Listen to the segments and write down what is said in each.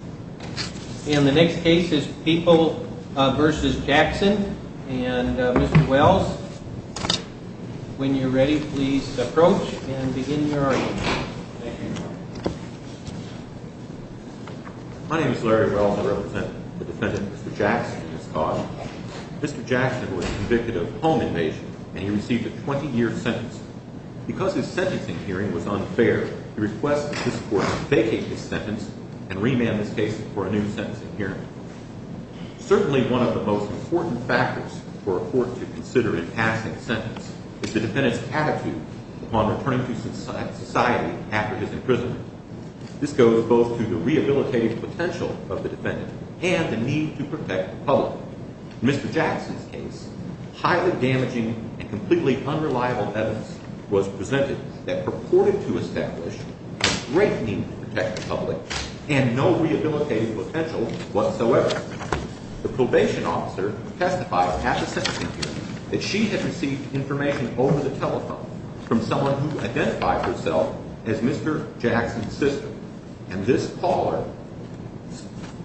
And the next case is People v. Jackson. And Mr. Wells, when you're ready, please approach and begin your argument. Thank you, Your Honor. My name is Larry Wells. I represent the defendant, Mr. Jackson, and his cause. Mr. Jackson was convicted of home invasion, and he received a 20-year sentence. Because his sentencing hearing was unfair, we request that this Court vacate this sentence and remand this case for a new sentencing hearing. Certainly one of the most important factors for a court to consider in passing a sentence is the defendant's attitude upon returning to society after his imprisonment. This goes both to the rehabilitative potential of the defendant and the need to protect the public. In Mr. Jackson's case, highly damaging and completely unreliable evidence was presented that purported to establish a great need to protect the public and no rehabilitative potential whatsoever. The probation officer testified at the sentencing hearing that she had received information over the telephone from someone who identified herself as Mr. Jackson's sister. And this caller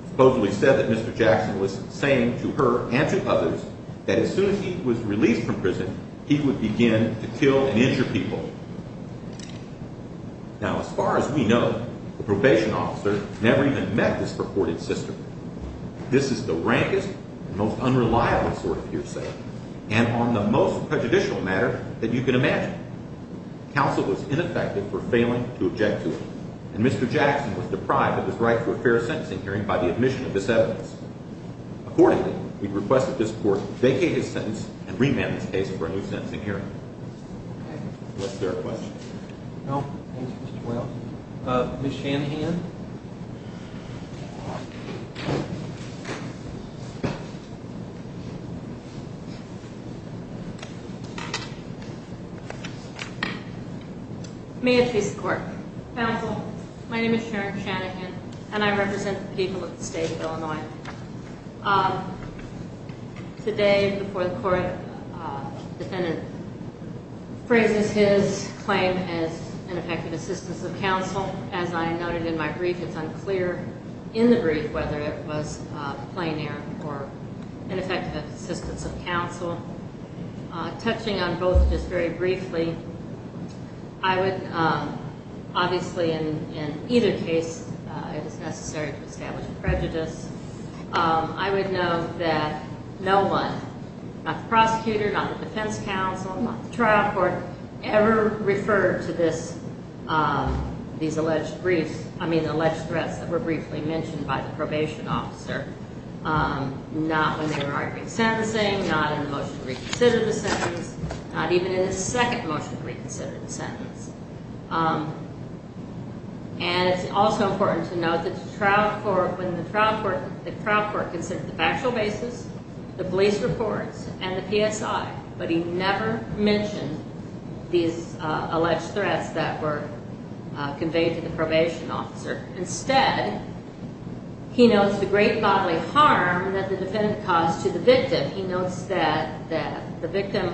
supposedly said that Mr. Jackson was saying to her and to others that as soon as he was released from prison, he would begin to kill and injure people. Now, as far as we know, the probation officer never even met this purported sister. This is the rankest and most unreliable sort of hearsay, and on the most prejudicial matter that you can imagine. Counsel was ineffective for failing to object to it, and Mr. Jackson was deprived of his right for a fair sentencing hearing by the admission of this evidence. Accordingly, we request that this court vacate his sentence and remand this case for a new sentencing hearing. Was there a question? No. Thank you, Mr. Doyle. Ms. Shanahan? May it please the Court. Counsel, my name is Sharon Shanahan, and I represent the people of the state of Illinois. Today, before the Court, the defendant phrases his claim as ineffective assistance of counsel. As I noted in my brief, it's unclear in the brief whether it was a plein air or ineffective assistance of counsel. Touching on both just very briefly, I would obviously in either case, it is necessary to establish a prejudice. I would note that no one, not the prosecutor, not the defense counsel, not the trial court, ever referred to these alleged threats that were briefly mentioned by the probation officer, not when they were arguing sentencing, not in the motion to reconsider the sentence, not even in the second motion to reconsider the sentence. And it's also important to note that the trial court, when the trial court, the trial court considered the factual basis, the police reports, and the PSI, but he never mentioned these alleged threats that were conveyed to the probation officer. Instead, he notes the great bodily harm that the defendant caused to the victim. He notes that the victim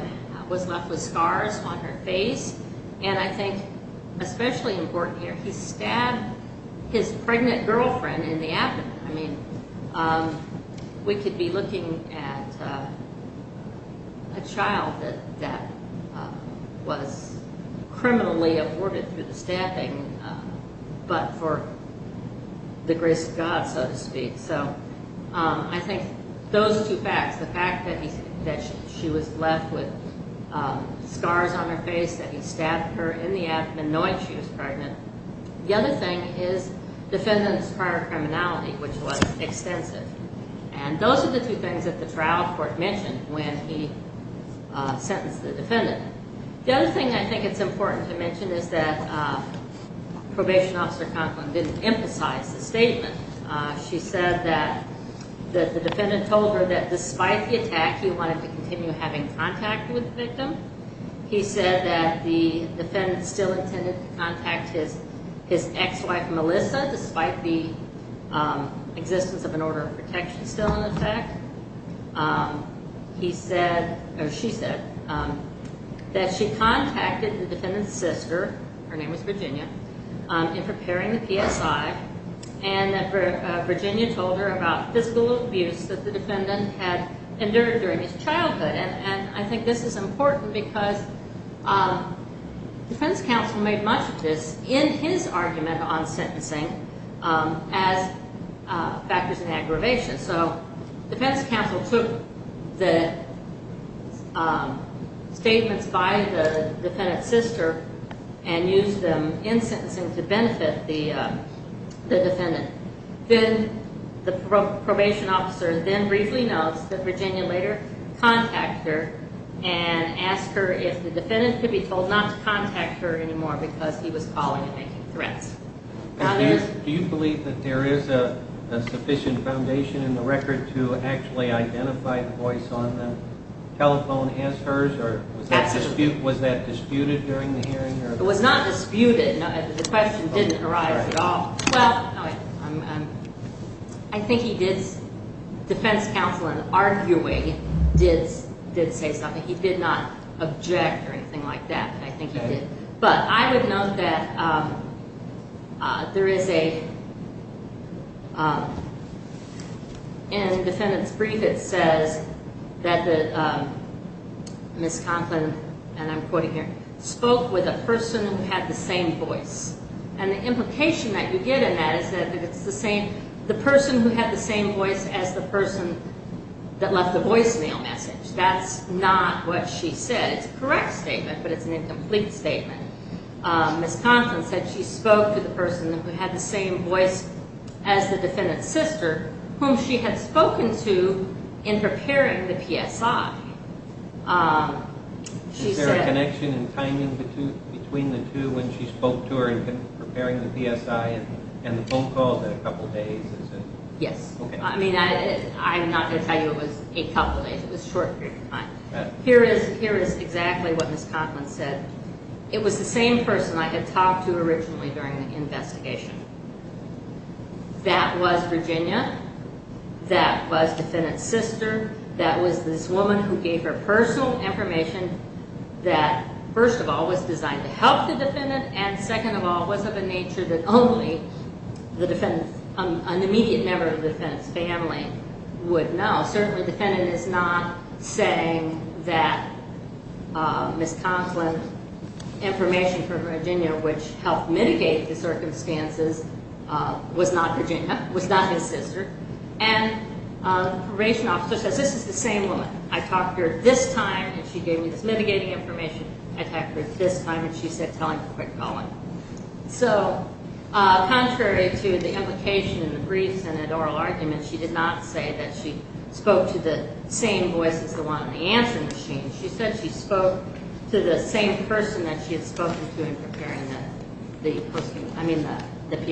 was left with scars on her face, and I think especially important here, he stabbed his pregnant girlfriend in the abdomen. I mean, we could be looking at a child that was criminally aborted through the stabbing, but for the grace of God, so to speak. So I think those are two facts, the fact that she was left with scars on her face, that he stabbed her in the abdomen knowing she was pregnant. The other thing is defendant's prior criminality, which was extensive. And those are the two things that the trial court mentioned when he sentenced the defendant. The other thing I think it's important to mention is that probation officer Conklin didn't emphasize the statement. She said that the defendant told her that despite the attack, he wanted to continue having contact with the victim. He said that the defendant still intended to contact his ex-wife, Melissa, despite the existence of an order of protection still in effect. He said, or she said, that she contacted the defendant's sister, her name was Virginia, in preparing the PSI, and that Virginia told her about physical abuse that the defendant had endured during his childhood. And I think this is important because defense counsel made much of this in his argument on sentencing as factors in aggravation. So defense counsel took the statements by the defendant's sister and used them in sentencing to benefit the defendant. Then the probation officer then briefly notes that Virginia later contacted her and asked her if the defendant could be told not to contact her anymore because he was calling and making threats. Do you believe that there is a sufficient foundation in the record to actually identify the voice on the telephone as hers, or was that disputed during the hearing? It was not disputed. The question didn't arise at all. Well, I think defense counsel in arguing did say something. He did not object or anything like that. I think he did. But I would note that there is a, in the defendant's brief it says that Ms. Conklin, and I'm quoting here, spoke with a person who had the same voice. And the implication that you get in that is that it's the same, the person who had the same voice as the person that left the voicemail message. That's not what she said. It's a correct statement, but it's an incomplete statement. Ms. Conklin said she spoke to the person who had the same voice as the defendant's sister, whom she had spoken to in preparing the PSI. Is there a connection in timing between the two when she spoke to her in preparing the PSI and the phone call that a couple days? Yes. I mean, I'm not going to tell you it was a couple days. It was a short period of time. Here is exactly what Ms. Conklin said. It was the same person I had talked to originally during the investigation. That was Virginia. That was the defendant's sister. That was this woman who gave her personal information that, first of all, was designed to help the defendant, and second of all, was of a nature that only an immediate member of the defendant's family would know. Certainly, the defendant is not saying that Ms. Conklin's information from Virginia, which helped mitigate the circumstances, was not Virginia, was not his sister. And the probation officer says, this is the same woman. I talked to her this time, and she gave me this mitigating information. I talked to her this time, and she said, tell him to quit calling. So contrary to the implication in the briefs and in oral arguments, she did not say that she spoke to the same voice as the one on the answering machine. She said she spoke to the same person that she had spoken to in preparing the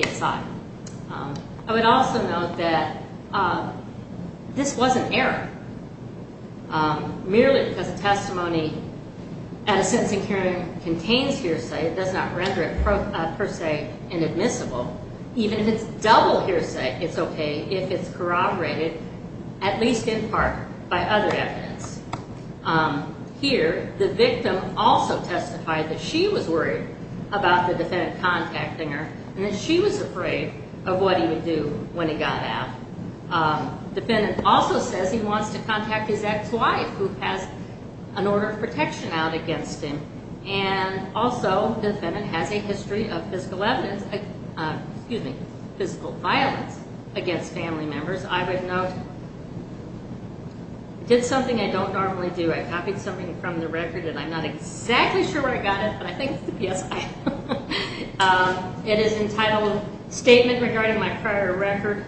PSI. I would also note that this wasn't error. Merely because a testimony at a sentencing hearing contains hearsay, it does not render it per se inadmissible. Even if it's double hearsay, it's okay if it's corroborated, at least in part, by other evidence. Here, the victim also testified that she was worried about the defendant contacting her, and that she was afraid of what he would do when he got out. The defendant also says he wants to contact his ex-wife, who has an order of protection out against him. And also, the defendant has a history of physical violence against family members. I would note, did something I don't normally do. I copied something from the record, and I'm not exactly sure where I got it, but I think it's the PSI. It is entitled, Statement Regarding My Prior Record,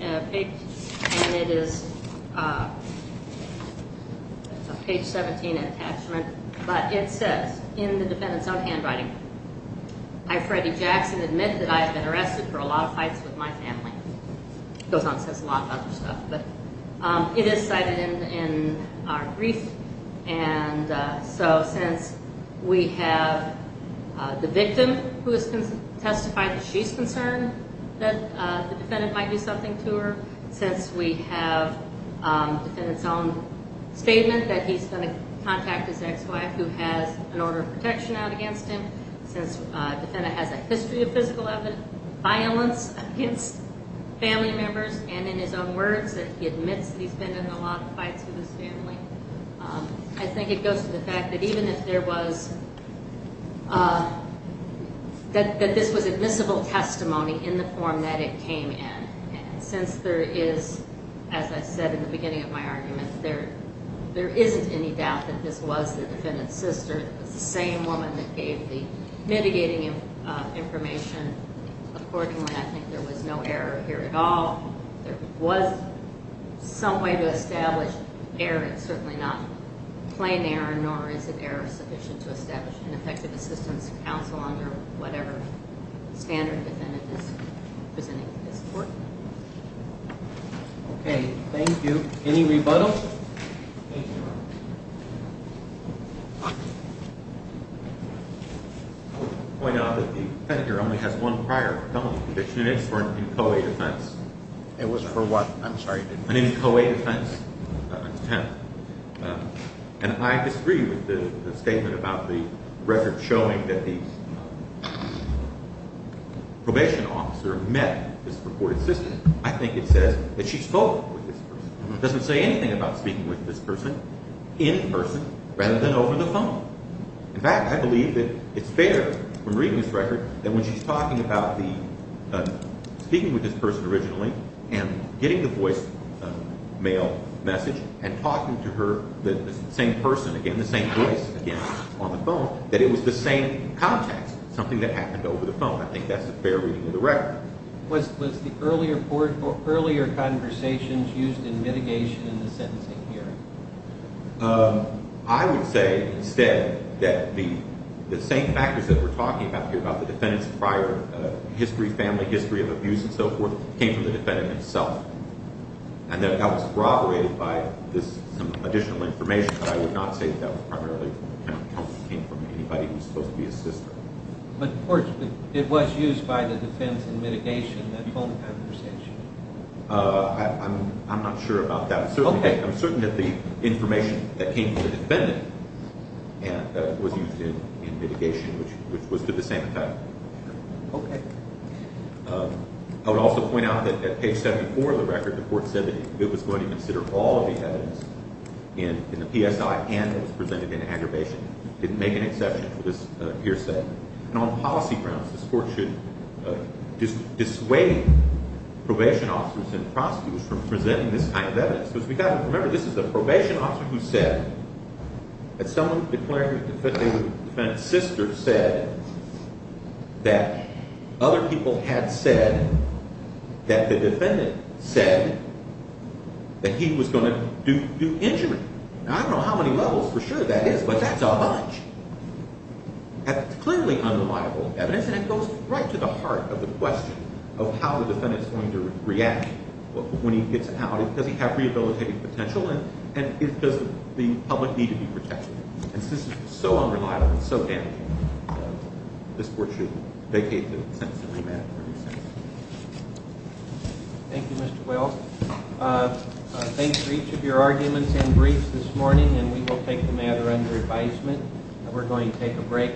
and it is a page 17 attachment. But it says, in the defendant's own handwriting, I, Freddie Jackson, admit that I have been arrested for a lot of fights with my family. It goes on to say a lot of other stuff. It is cited in our brief, and so since we have the victim who has testified that she's concerned that the defendant might do something to her, since we have the defendant's own statement that he's going to contact his ex-wife, who has an order of protection out against him, since the defendant has a history of physical violence against family members, and in his own words that he admits that he's been in a lot of fights with his family, I think it goes to the fact that even if there was, that this was admissible testimony in the form that it came in, and since there is, as I said in the beginning of my argument, there isn't any doubt that this was the defendant's sister, the same woman that gave the mitigating information. Accordingly, I think there was no error here at all. If there was some way to establish error, it's certainly not plain error, nor is it error sufficient to establish an effective assistance counsel under whatever standard the defendant is presenting to this court. Okay, thank you. Any rebuttals? Thank you, Your Honor. I would point out that the defendant here only has one prior felony conviction, and it's for an in-co-ed offense. It was for what? I'm sorry. An in-co-ed offense attempt. And I disagree with the statement about the record showing that the probation officer met this reported sister. I think it says that she spoke with this person. It doesn't say anything about speaking with this person in person rather than over the phone. In fact, I believe that it's fair from reading this record that when she's talking about the speaking with this person originally and getting the voice mail message and talking to her, the same person again, the same voice again on the phone, that it was the same context, something that happened over the phone. I think that's a fair reading of the record. Was the earlier conversations used in mitigation in the sentencing hearing? I would say instead that the same factors that we're talking about here, about the defendant's prior history, family history of abuse and so forth, came from the defendant himself. And that was corroborated by this additional information, but I would not say that that primarily came from anybody who was supposed to be his sister. But, of course, it was used by the defense in mitigation, that phone conversation. I'm not sure about that. I'm certain that the information that came from the defendant was used in mitigation, which was to the same effect. Okay. I would also point out that at page 74 of the record, the court said that it was going to consider all of the evidence in the PSI and that it was presented in aggravation. It didn't make an exception to what this here said. And on policy grounds, this court should dissuade probation officers and prosecutors from presenting this kind of evidence. Because we've got to remember this is the probation officer who said that someone declared that they were the defendant's sister said that other people had said that the defendant said that he was going to do injury. Now, I don't know how many levels for sure that is, but that's a bunch. That's clearly unreliable evidence, and it goes right to the heart of the question of how the defendant is going to react when he gets out. Does he have rehabilitative potential, and does the public need to be protected? And since it's so unreliable and so damaging, this court should vacate the sentence and remand it. Thank you, Mr. Wells. Thanks for each of your arguments and briefs this morning, and we will take the matter under advisement. We're going to take a break.